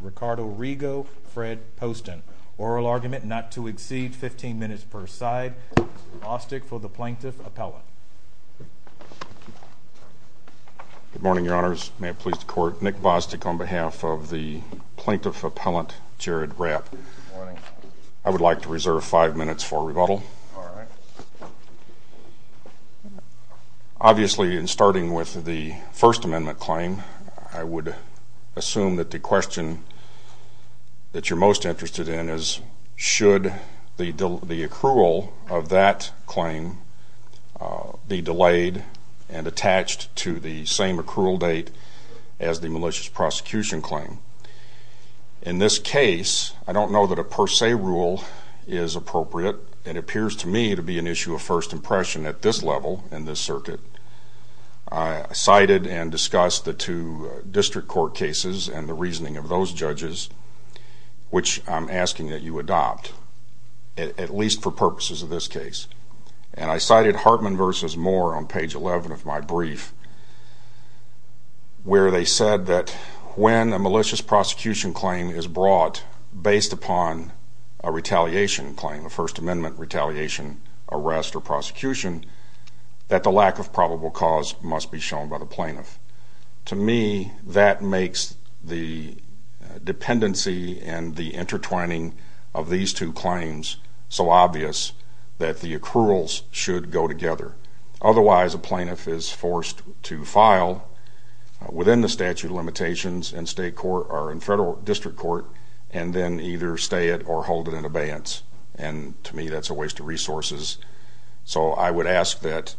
Ricardo Rego, Fred Poston. Oral argument not to exceed 15 minutes per side. Bostic for the Plaintiff Appellant. Good morning, Your Honors. May it please the Court, Nick Bostic on behalf of the Plaintiff Appellant, Jared Rapp. I would like to reserve five minutes for rebuttal. Obviously, in starting with the First Amendment claim, I would assume that the question that you're most interested in is, should the accrual of that claim be delayed and attached to the same accrual date as the malicious prosecution claim? In this case, I don't know that a per se rule is appropriate. It appears to me to be an issue of first impression at this level in this circuit. I cited and discussed the two district court cases and the reasoning of those judges, which I'm asking that you adopt, at least for purposes of this case. And I cited Hartman v. Moore on page 11 of my brief, where they said that when a malicious prosecution claim is brought based upon a retaliation claim, a First Amendment retaliation arrest or prosecution, that the lack of probable cause must be shown by the plaintiff. To me, that makes the dependency and the intertwining of these two claims so obvious that the accruals should go together. Otherwise, a plaintiff is forced to file within the statute of limitations in state court or in federal district court and then either stay it or hold it in abeyance. And to me, that's a waste of resources. So I would ask that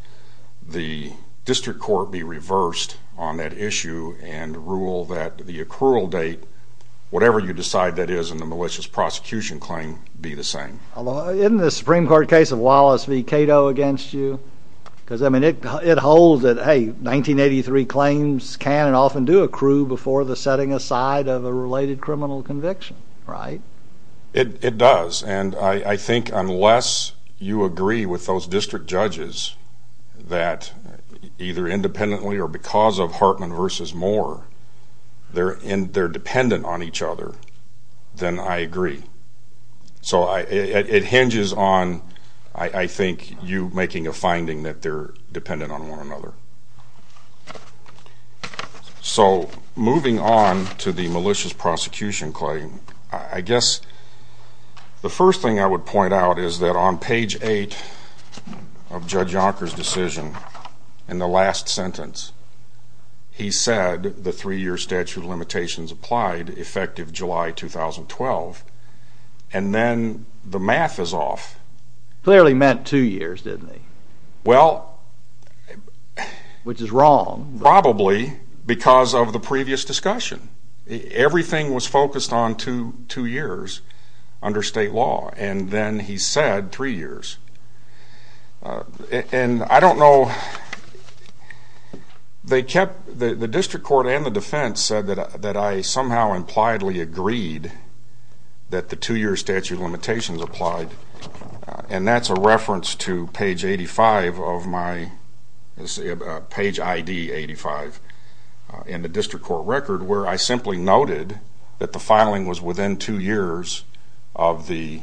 the district court be reversed on that issue and rule that the accrual date, whatever you decide that is in the malicious prosecution claim, be the same. Isn't the Supreme Court case of Wallace v. Cato against you? Because, I mean, it holds that, hey, 1983 claims can and often do accrue before the setting aside of a related criminal conviction, right? It does. And I think unless you agree with those district judges that either independently or because of Hartman v. Moore, they're dependent on each other, then I agree. So it hinges on, I think, you making a finding that they're dependent on one another. So moving on to the malicious prosecution claim, I guess the first thing I would point out is that on page 8 of Judge Yonker's decision, in the last sentence, he said the three-year statute of limitations applied, effective July 2012, and then the math is off. Clearly meant two years, didn't he? Well... Which is wrong. Probably because of the previous discussion. Everything was focused on two years under state law. And then he said three years. And I don't know, they kept, the district court and the defense said that I somehow impliedly agreed that the two-year statute of limitations applied. And that's a reference to page 85 of my, page ID 85 in the district court record where I simply noted that the filing was within two years of the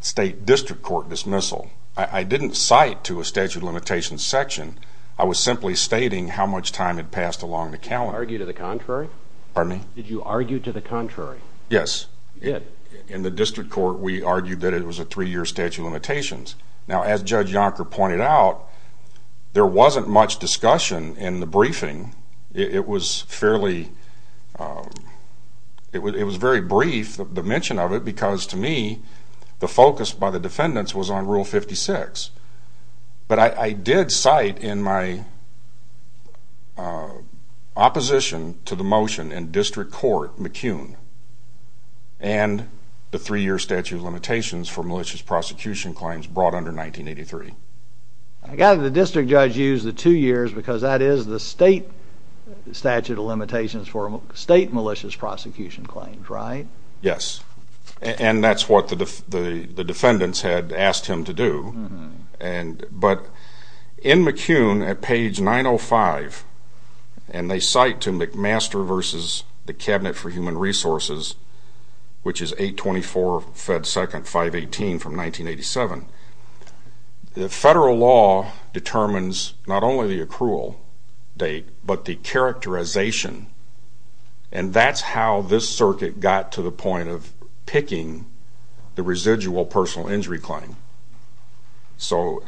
state district court dismissal. I didn't cite to a statute of limitations section. I was simply stating how much time had passed along the calendar. Did you argue to the contrary? Pardon me? Did you argue to the contrary? Yes. In the district court, we argued that it was a three-year statute of limitations. Now, as Judge Yonker pointed out, there wasn't much discussion in the briefing. It was fairly, it was very brief, the mention of it, because to me, the focus by the defendants was on Rule 56. But I did cite in my opposition to the motion in district court McCune and the three-year statute of limitations for malicious prosecution claims brought under 1983. I gather the district judge used the two years because that is the state statute of limitations for state malicious prosecution claims, right? Yes. And that's what the defendants had asked him to do. But in McCune, at page 905, and they cite to McMaster versus the Cabinet for Human Resources, which is 824 Fed 2nd 518 from 1987, the federal law determines not only the accrual date, but the characterization. And that's how this circuit got to the point of picking the residual personal injury claim. So,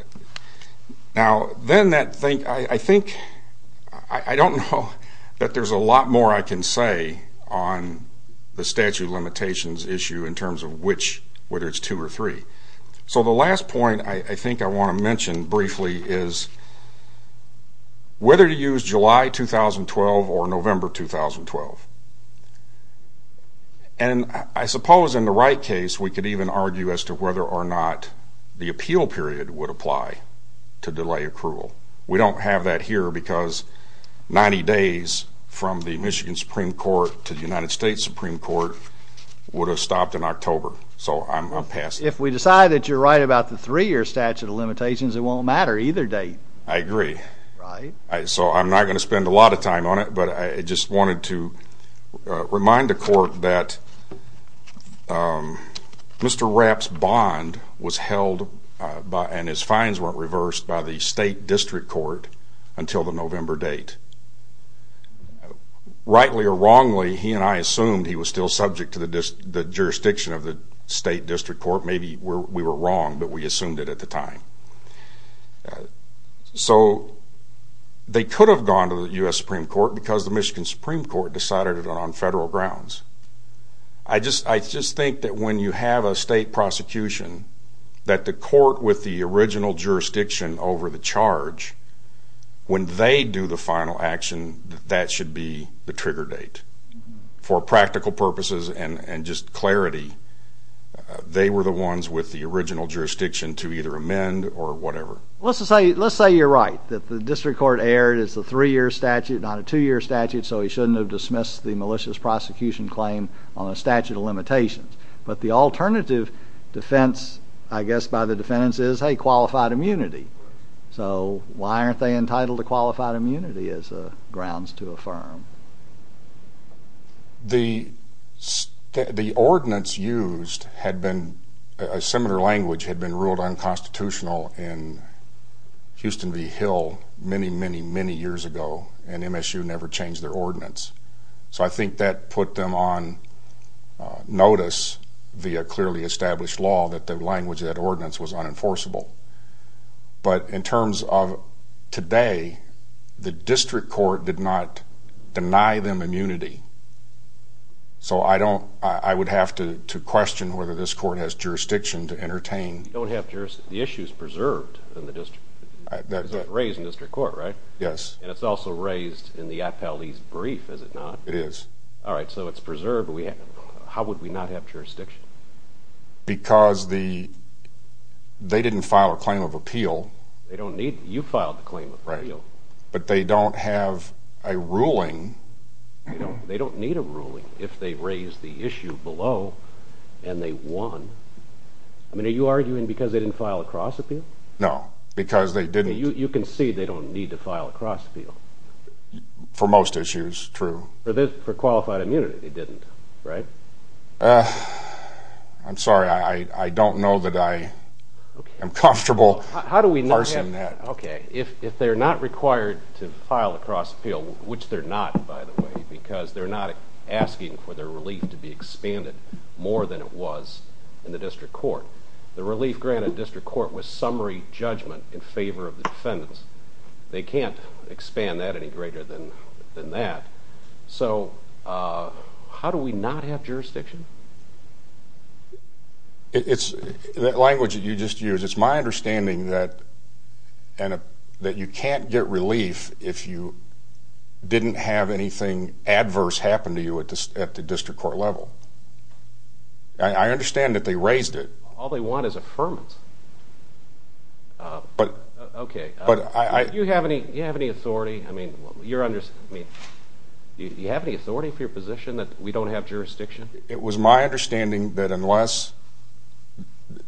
now, then that thing, I think, I don't know that there's a lot more I can say on the statute of limitations issue in terms of which, whether it's two or three. So, the last point I think I want to mention briefly is whether to use July 2012 or November 2012. And I suppose in the right case, we could even argue as to whether or not the appeal period would apply to delay accrual. We don't have that here because 90 days from the Michigan Supreme Court to the United States Supreme Court would have stopped in October. So, I'm passing it. If we decide that you're right about the three-year statute of limitations, it won't matter either date. I agree. Right. So, I'm not going to spend a lot of time on it, but I just wanted to remind the court that Mr. Rapp's bond was held and his fines weren't reversed by the State District Court until the November date. Rightly or wrongly, he and I assumed he was still subject to the jurisdiction of the State District Court. Maybe we were wrong, but we assumed it at the time. So, they could have gone to the U.S. Supreme Court because the Michigan Supreme Court decided it on federal grounds. I just think that when you have a state prosecution, that the court with the original jurisdiction over the charge, when they do the final action, that should be the trigger date. For practical purposes and just clarity, they were the ones with the original jurisdiction to either amend or whatever. Let's say you're right, that the District Court erred. It's a three-year statute, not a two-year statute, so he shouldn't have dismissed the malicious prosecution claim on a statute of limitations. But the alternative defense, I guess, by the defendants is, hey, qualified immunity. So, why aren't they entitled to qualified immunity as grounds to affirm? The ordinance used had been, a similar language had been ruled unconstitutional in Houston v. Hill many, many, many years ago, and MSU never changed their ordinance. So, I think that put them on notice via clearly established law that the language of that ordinance was unenforceable. But in terms of today, the District Court did not deny them immunity. So, I don't, I would have to question whether this court has jurisdiction to entertain. You don't have jurisdiction. The issue is preserved in the district. It's raised in the District Court, right? Yes. And it's also raised in the appellee's brief, is it not? It is. All right, so it's preserved. How would we not have jurisdiction? Because the, they didn't file a claim of appeal. They don't need, you filed a claim of appeal. Right, but they don't have a ruling. They don't need a ruling if they raise the issue below and they won. I mean, are you arguing because they didn't file a cross appeal? No, because they didn't. You can see they don't need to file a cross appeal. For most issues, true. For qualified immunity, they didn't, right? I'm sorry, I don't know that I am comfortable parsing that. Okay, if they're not required to file a cross appeal, which they're not, by the way, because they're not asking for their relief to be expanded more than it was in the District Court. The relief granted in the District Court was summary judgment in favor of the defendants. They can't expand that any greater than that. So, how do we not have jurisdiction? It's, that language that you just used, it's my understanding that you can't get relief if you didn't have anything adverse happen to you at the District Court level. I understand that they raised it. All they want is affirmance. Okay. Do you have any authority? I mean, you're, I mean, do you have any authority for your position that we don't have jurisdiction? It was my understanding that unless,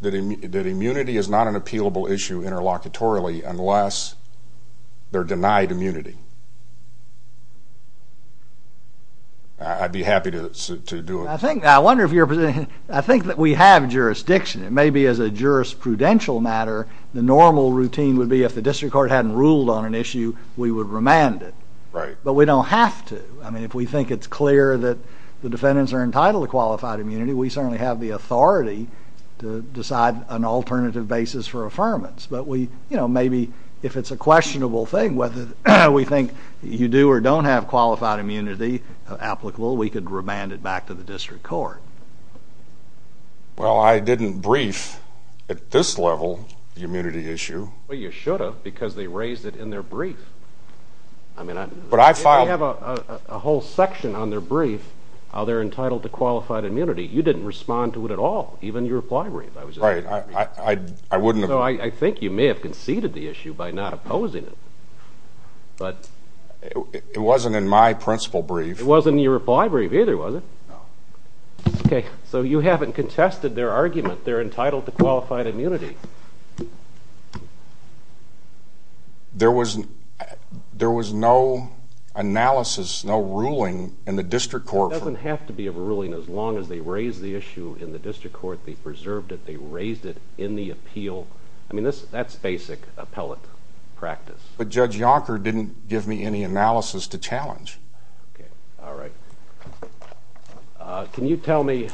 that immunity is not an appealable issue interlocutorily unless they're denied immunity. I'd be happy to do it. I think, I wonder if you're, I think that we have jurisdiction. It may be as a jurisprudential matter, the normal routine would be if the District Court hadn't ruled on an issue, we would remand it. Right. But we don't have to. I mean, if we think it's clear that the defendants are entitled to qualified immunity, we certainly have the authority to decide an alternative basis for affirmance. But we, you know, maybe if it's a questionable thing, whether we think you do or don't have qualified immunity applicable, we could remand it back to the District Court. Well, I didn't brief at this level the immunity issue. Well, you should have because they raised it in their brief. I mean, if they have a whole section on their brief, how they're entitled to qualified immunity, you didn't respond to it at all, even in your reply brief. Right. I wouldn't have. So I think you may have conceded the issue by not opposing it. It wasn't in my principle brief. It wasn't in your reply brief either, was it? No. Okay. So you haven't contested their argument they're entitled to qualified immunity. There was no analysis, no ruling in the District Court. It doesn't have to be a ruling as long as they raise the issue in the District Court, they preserved it, they raised it in the appeal. I mean, that's basic appellate practice. But Judge Yonker didn't give me any analysis to challenge. Okay. All right. Can you tell me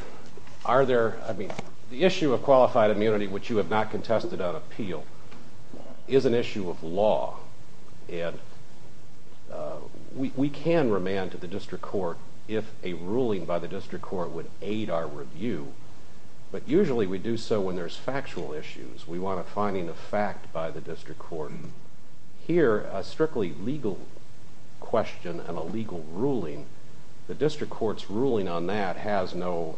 are there, I mean, the issue of qualified immunity, which you have not contested on appeal, is an issue of law. And we can remand to the District Court if a ruling by the District Court would aid our review. But usually we do so when there's factual issues. We want a finding of fact by the District Court. Here, a strictly legal question and a legal ruling, the District Court's ruling on that has no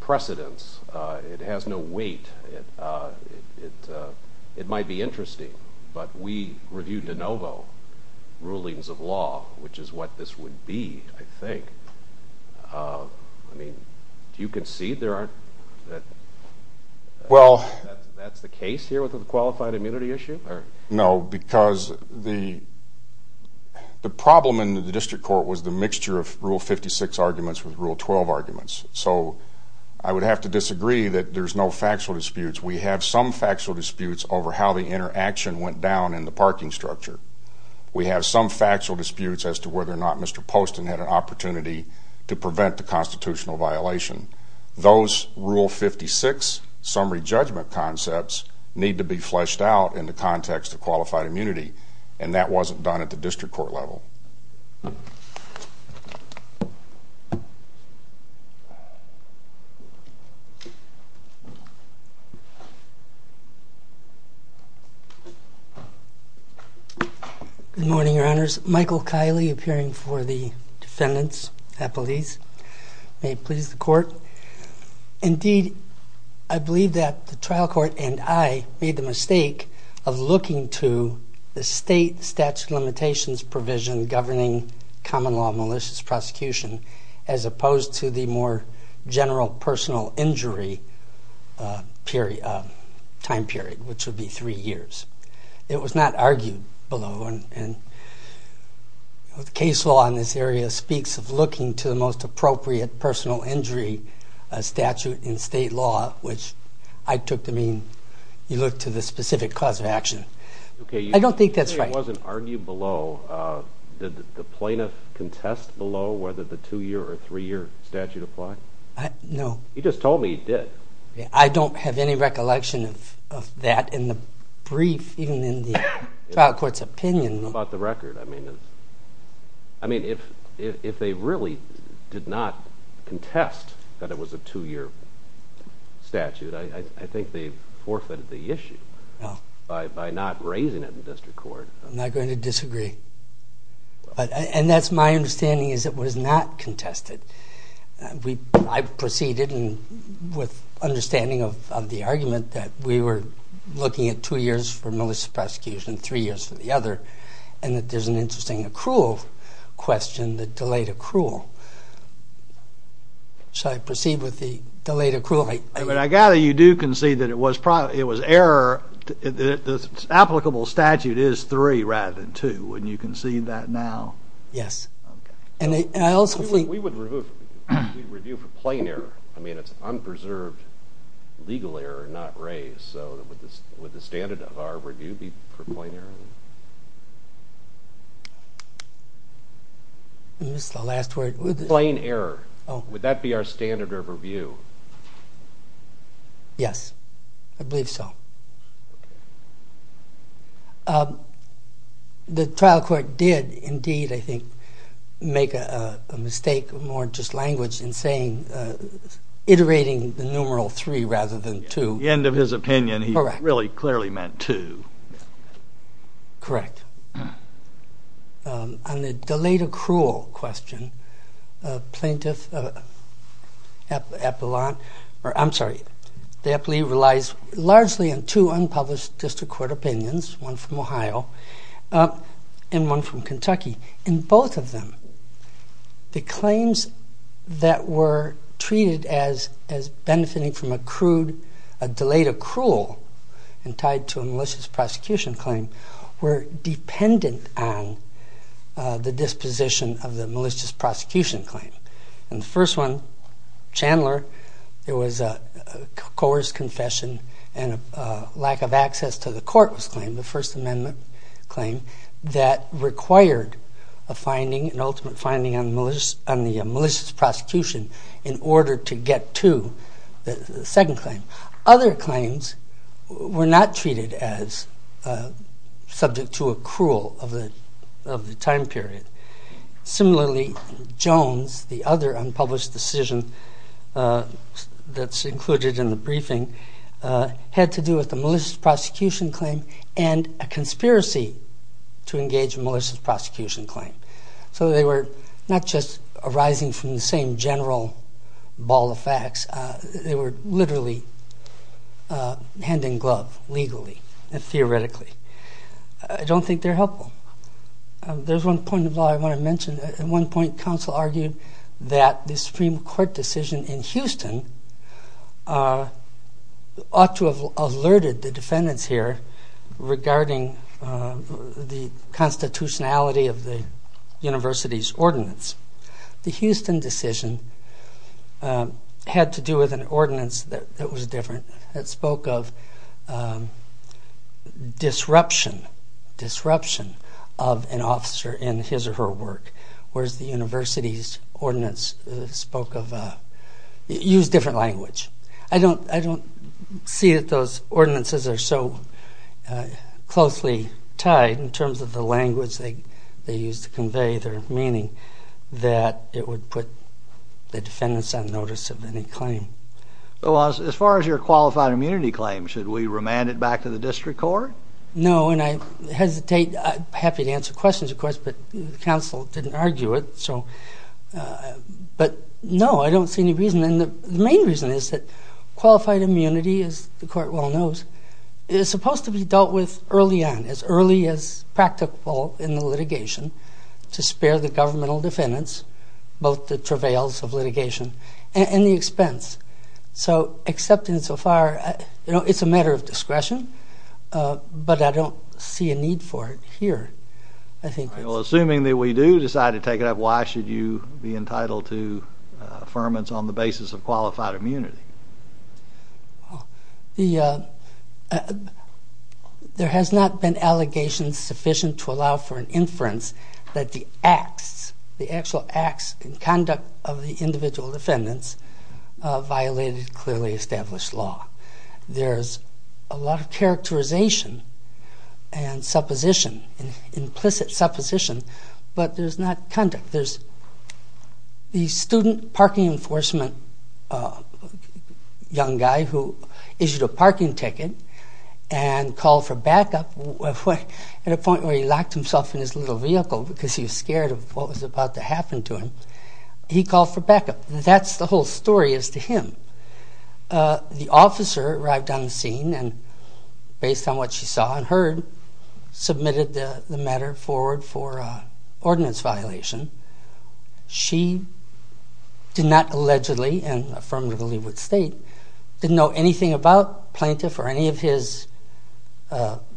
precedence. It has no weight. It might be interesting, but we review de novo rulings of law, which is what this would be, I think. I mean, do you concede there aren't? Well. That's the case here with the qualified immunity issue? No, because the problem in the District Court was the mixture of Rule 56 arguments with Rule 12 arguments. So I would have to disagree that there's no factual disputes. We have some factual disputes over how the interaction went down in the parking structure. We have some factual disputes as to whether or not Mr. Poston had an opportunity to prevent the constitutional violation. Those Rule 56 summary judgment concepts need to be fleshed out in the context of qualified immunity, and that wasn't done at the District Court level. Good morning, Your Honors. Michael Kiley, appearing for the defendants' appellees. May it please the Court. Indeed, I believe that the trial court and I made the mistake of looking to the state statute of limitations provision governing common law malicious prosecution as opposed to the more general personal injury time period, which would be three years. It was not argued below, and the case law in this area speaks of looking to the most appropriate personal injury statute in state law, which I took to mean you look to the specific cause of action. I don't think that's right. It wasn't argued below. Did the plaintiff contest below whether the two-year or three-year statute applied? No. He just told me he did. I don't have any recollection of that in the brief, even in the trial court's opinion. It's about the record. I mean, if they really did not contest that it was a two-year statute, I think they forfeited the issue by not raising it in District Court. I'm not going to disagree. And that's my understanding is it was not contested. I proceeded with understanding of the argument that we were looking at two years for malicious prosecution, three years for the other, and that there's an interesting accrual question, the delayed accrual. So I proceed with the delayed accrual. But I gather you do concede that it was error, the applicable statute is three rather than two, and you concede that now. Yes. We would review for plain error. I mean, it's unpreserved legal error, not raise. So would the standard of our review be for plain error? What was the last word? Plain error. Would that be our standard of review? Yes, I believe so. The trial court did indeed, I think, make a mistake more just language in saying iterating the numeral three rather than two. At the end of his opinion, he really clearly meant two. Correct. On the delayed accrual question, plaintiff appellate or I'm sorry, the appellee relies largely on two unpublished district court opinions, one from Ohio and one from Kentucky. In both of them, the claims that were treated as benefiting from accrued, a delayed accrual and tied to a malicious prosecution claim were dependent on the disposition of the malicious prosecution claim. And the first one, Chandler, it was a coerced confession and a lack of access to the court was claimed, the First Amendment claim that required a finding, an ultimate finding on the malicious prosecution in order to get to the second claim. Other claims were not treated as subject to accrual of the time period. Similarly, Jones, the other unpublished decision that's included in the briefing, had to do with the malicious prosecution claim and a conspiracy to engage malicious prosecution claim. So they were not just arising from the same general ball of facts, they were literally hand in glove legally and theoretically. I don't think they're helpful. There's one point of law I want to mention. At one point, counsel argued that the Supreme Court decision in Houston ought to have alerted the defendants here regarding the constitutionality of the university's ordinance. The Houston decision had to do with an ordinance that was different, that spoke of disruption, disruption of an officer in his or her work, whereas the university's ordinance spoke of, used different language. I don't see that those ordinances are so closely tied in terms of the language they used to convey their meaning that it would put the defendants on notice of any claim. Well, as far as your qualified immunity claim, should we remand it back to the district court? No, and I hesitate. I'm happy to answer questions, of course, but counsel didn't argue it. But no, I don't see any reason. And the main reason is that qualified immunity, as the court well knows, is supposed to be dealt with early on, as early as practical in the litigation, to spare the governmental defendants both the travails of litigation and the expense. So accepting it so far, it's a matter of discretion, but I don't see a need for it here. Assuming that we do decide to take it up, why should you be entitled to affirmance on the basis of qualified immunity? There has not been allegation sufficient to allow for an inference that the acts, the actual acts and conduct of the individual defendants violated clearly established law. There's a lot of characterization and supposition, implicit supposition, but there's not conduct. There's the student parking enforcement young guy who issued a parking ticket and called for backup at a point where he locked himself in his little vehicle because he was scared of what was about to happen to him. He called for backup. That's the whole story as to him. The officer arrived on the scene and, based on what she saw and heard, submitted the matter forward for ordinance violation. She did not allegedly and affirmatively would state, didn't know anything about Plaintiff or any of his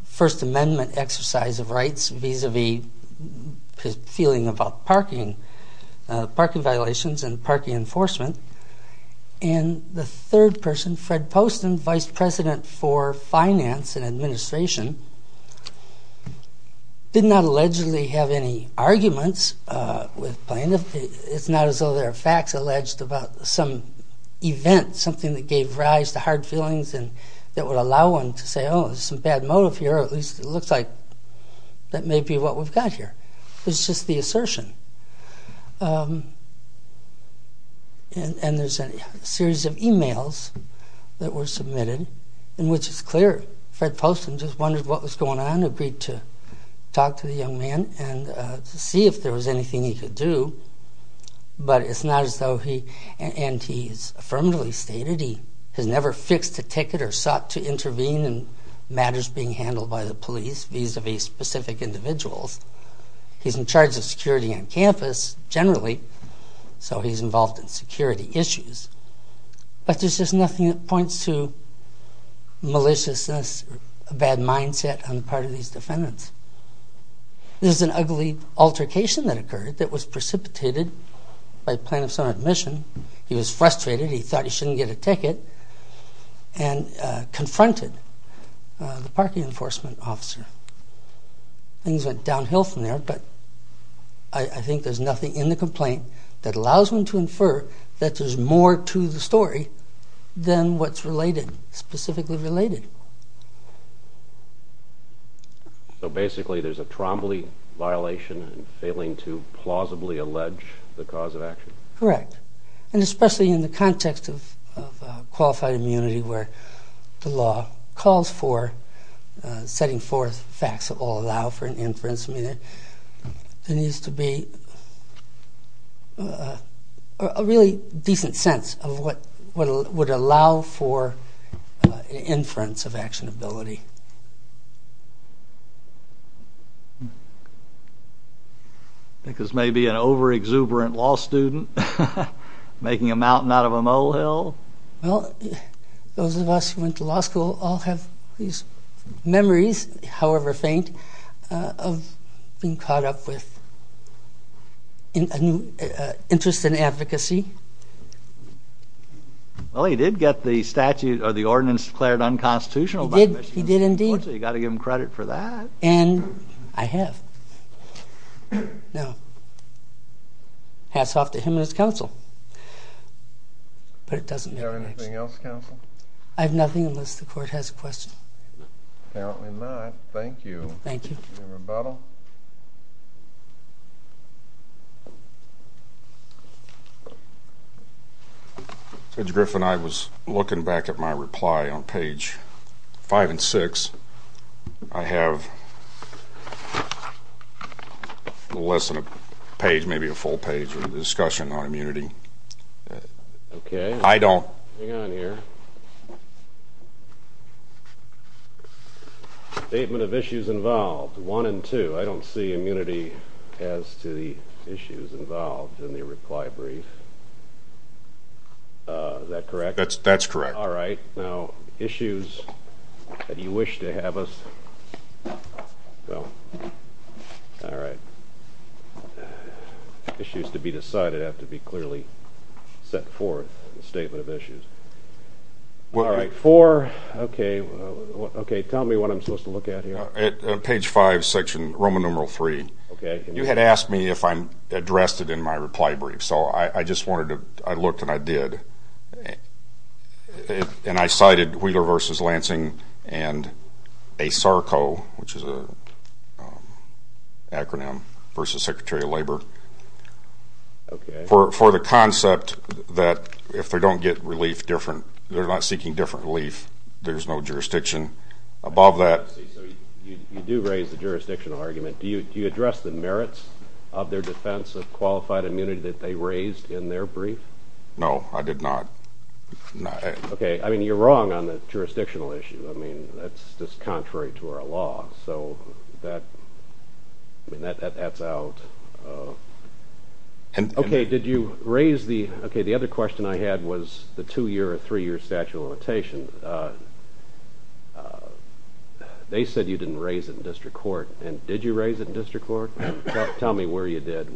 First Amendment exercise of rights vis-à-vis his feeling about parking violations and parking enforcement. And the third person, Fred Poston, Vice President for Finance and Administration, did not allegedly have any arguments with Plaintiff. It's not as though there are facts alleged about some event, something that gave rise to hard feelings and that would allow one to say, oh, there's some bad motive here, or at least it looks like that may be what we've got here. It's just the assertion. And there's a series of e-mails that were submitted in which it's clear Fred Poston just wondered what was going on, agreed to talk to the young man and to see if there was anything he could do, but it's not as though he, and he's affirmatively stated he has never fixed a ticket or sought to intervene in matters being handled by the police vis-à-vis specific individuals. He's in charge of security on campus, generally, so he's involved in security issues. But there's just nothing that points to maliciousness or a bad mindset on the part of these defendants. There's an ugly altercation that occurred that was precipitated by Plaintiff's own admission. He was frustrated. He thought he shouldn't get a ticket and confronted the parking enforcement officer. Things went downhill from there, but I think there's nothing in the complaint that allows one to infer that there's more to the story than what's related, specifically related. So basically there's a Trombley violation and failing to plausibly allege the cause of action? Correct, and especially in the context of qualified immunity where the law calls for setting forth facts that will allow for an inference, there needs to be a really decent sense of what would allow for inference of actionability. I think this may be an over-exuberant law student making a mountain out of a molehill. Well, those of us who went to law school all have these memories, however faint, of being caught up with an interest in advocacy. Well, he did get the statute or the ordinance declared unconstitutional. He did, he did indeed. So you've got to give him credit for that. And I have. Now, hats off to him and his counsel. Is there anything else, counsel? I have nothing unless the court has a question. Apparently not. Thank you. Thank you. Any rebuttal? No. Judge Griffin, I was looking back at my reply on page 5 and 6. I have less than a page, maybe a full page, of a discussion on immunity. Okay. I don't. Hang on here. Statement of issues involved, 1 and 2. I don't see immunity as to the issues involved in the reply brief. Is that correct? That's correct. All right. Now, issues that you wish to have us, well, all right. Issues to be decided have to be clearly set forth in the statement of issues. All right. 4. Okay. Tell me what I'm supposed to look at here. Page 5, section Roman numeral 3. Okay. You had asked me if I addressed it in my reply brief, so I just wanted to, I looked and I did. And I cited Wheeler v. Lansing and ASARCO, which is an acronym, v. Secretary of Labor, for the concept that if they don't get relief different, they're not seeking different relief, there's no jurisdiction above that. So you do raise the jurisdictional argument. Do you address the merits of their defense of qualified immunity that they raised in their brief? No, I did not. Okay. I mean, you're wrong on the jurisdictional issue. I mean, that's just contrary to our law. So that, I mean, that's out. Okay. Did you raise the, okay, the other question I had was the two-year or three-year statute of limitations. They said you didn't raise it in district court. And did you raise it in district court? Tell me where you did.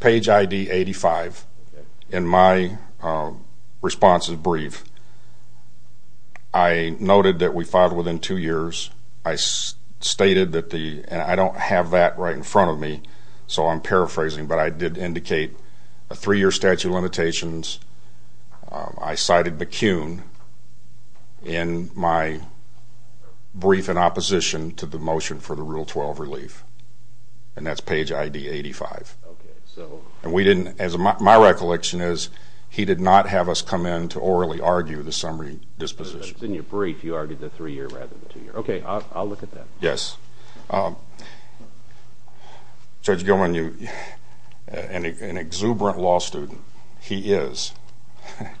Page ID 85. Okay. And my response is brief. I noted that we filed within two years. I stated that the, and I don't have that right in front of me, so I'm paraphrasing, but I did indicate a three-year statute of limitations. I cited McCune in my brief in opposition to the motion for the Rule 12 relief. And that's page ID 85. Okay. And we didn't, as my recollection is, he did not have us come in to orally argue the summary disposition. In your brief, you argued the three-year rather than the two-year. Okay. I'll look at that. Yes. Judge Gilman, an exuberant law student, he is,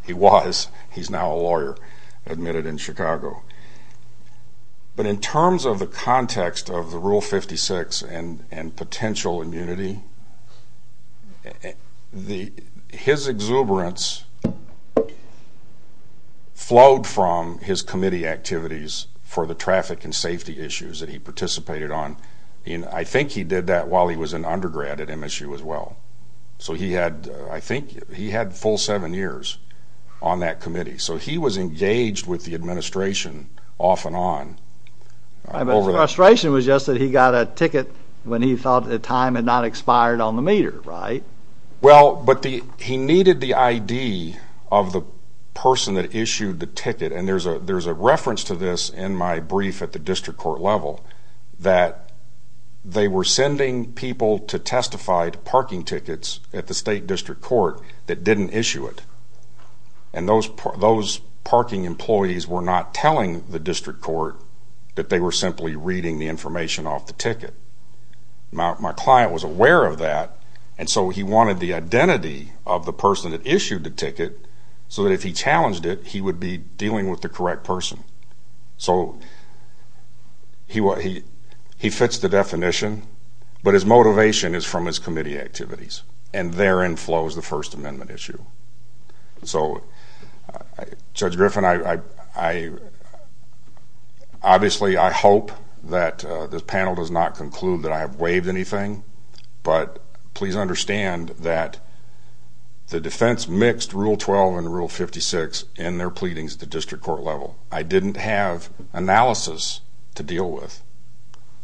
he was, he's now a lawyer admitted in Chicago. But in terms of the context of the Rule 56 and potential immunity, his exuberance flowed from his committee activities for the traffic and safety issues that he participated on. I think he did that while he was an undergrad at MSU as well. So he had, I think he had a full seven years on that committee. So he was engaged with the administration off and on. The frustration was just that he got a ticket when he thought the time had not expired on the meter, right? Well, but he needed the ID of the person that issued the ticket, and there's a reference to this in my brief at the district court level, that they were sending people to testify to parking tickets at the state district court that didn't issue it. And those parking employees were not telling the district court that they were simply reading the information off the ticket. My client was aware of that, and so he wanted the identity of the person that issued the ticket so that if he challenged it, he would be dealing with the correct person. So he fits the definition, but his motivation is from his committee activities, and therein flows the First Amendment issue. So Judge Griffin, obviously I hope that this panel does not conclude that I have waived anything, but please understand that the defense mixed Rule 12 and Rule 56 in their pleadings at the district court level. I didn't have analysis to deal with.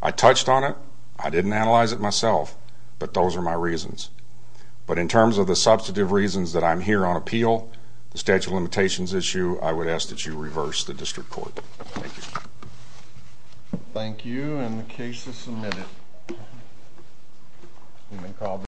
I touched on it. I didn't analyze it myself, but those are my reasons. But in terms of the substantive reasons that I'm here on appeal, the statute of limitations issue, I would ask that you reverse the district court. Thank you. Thank you, and the case is submitted.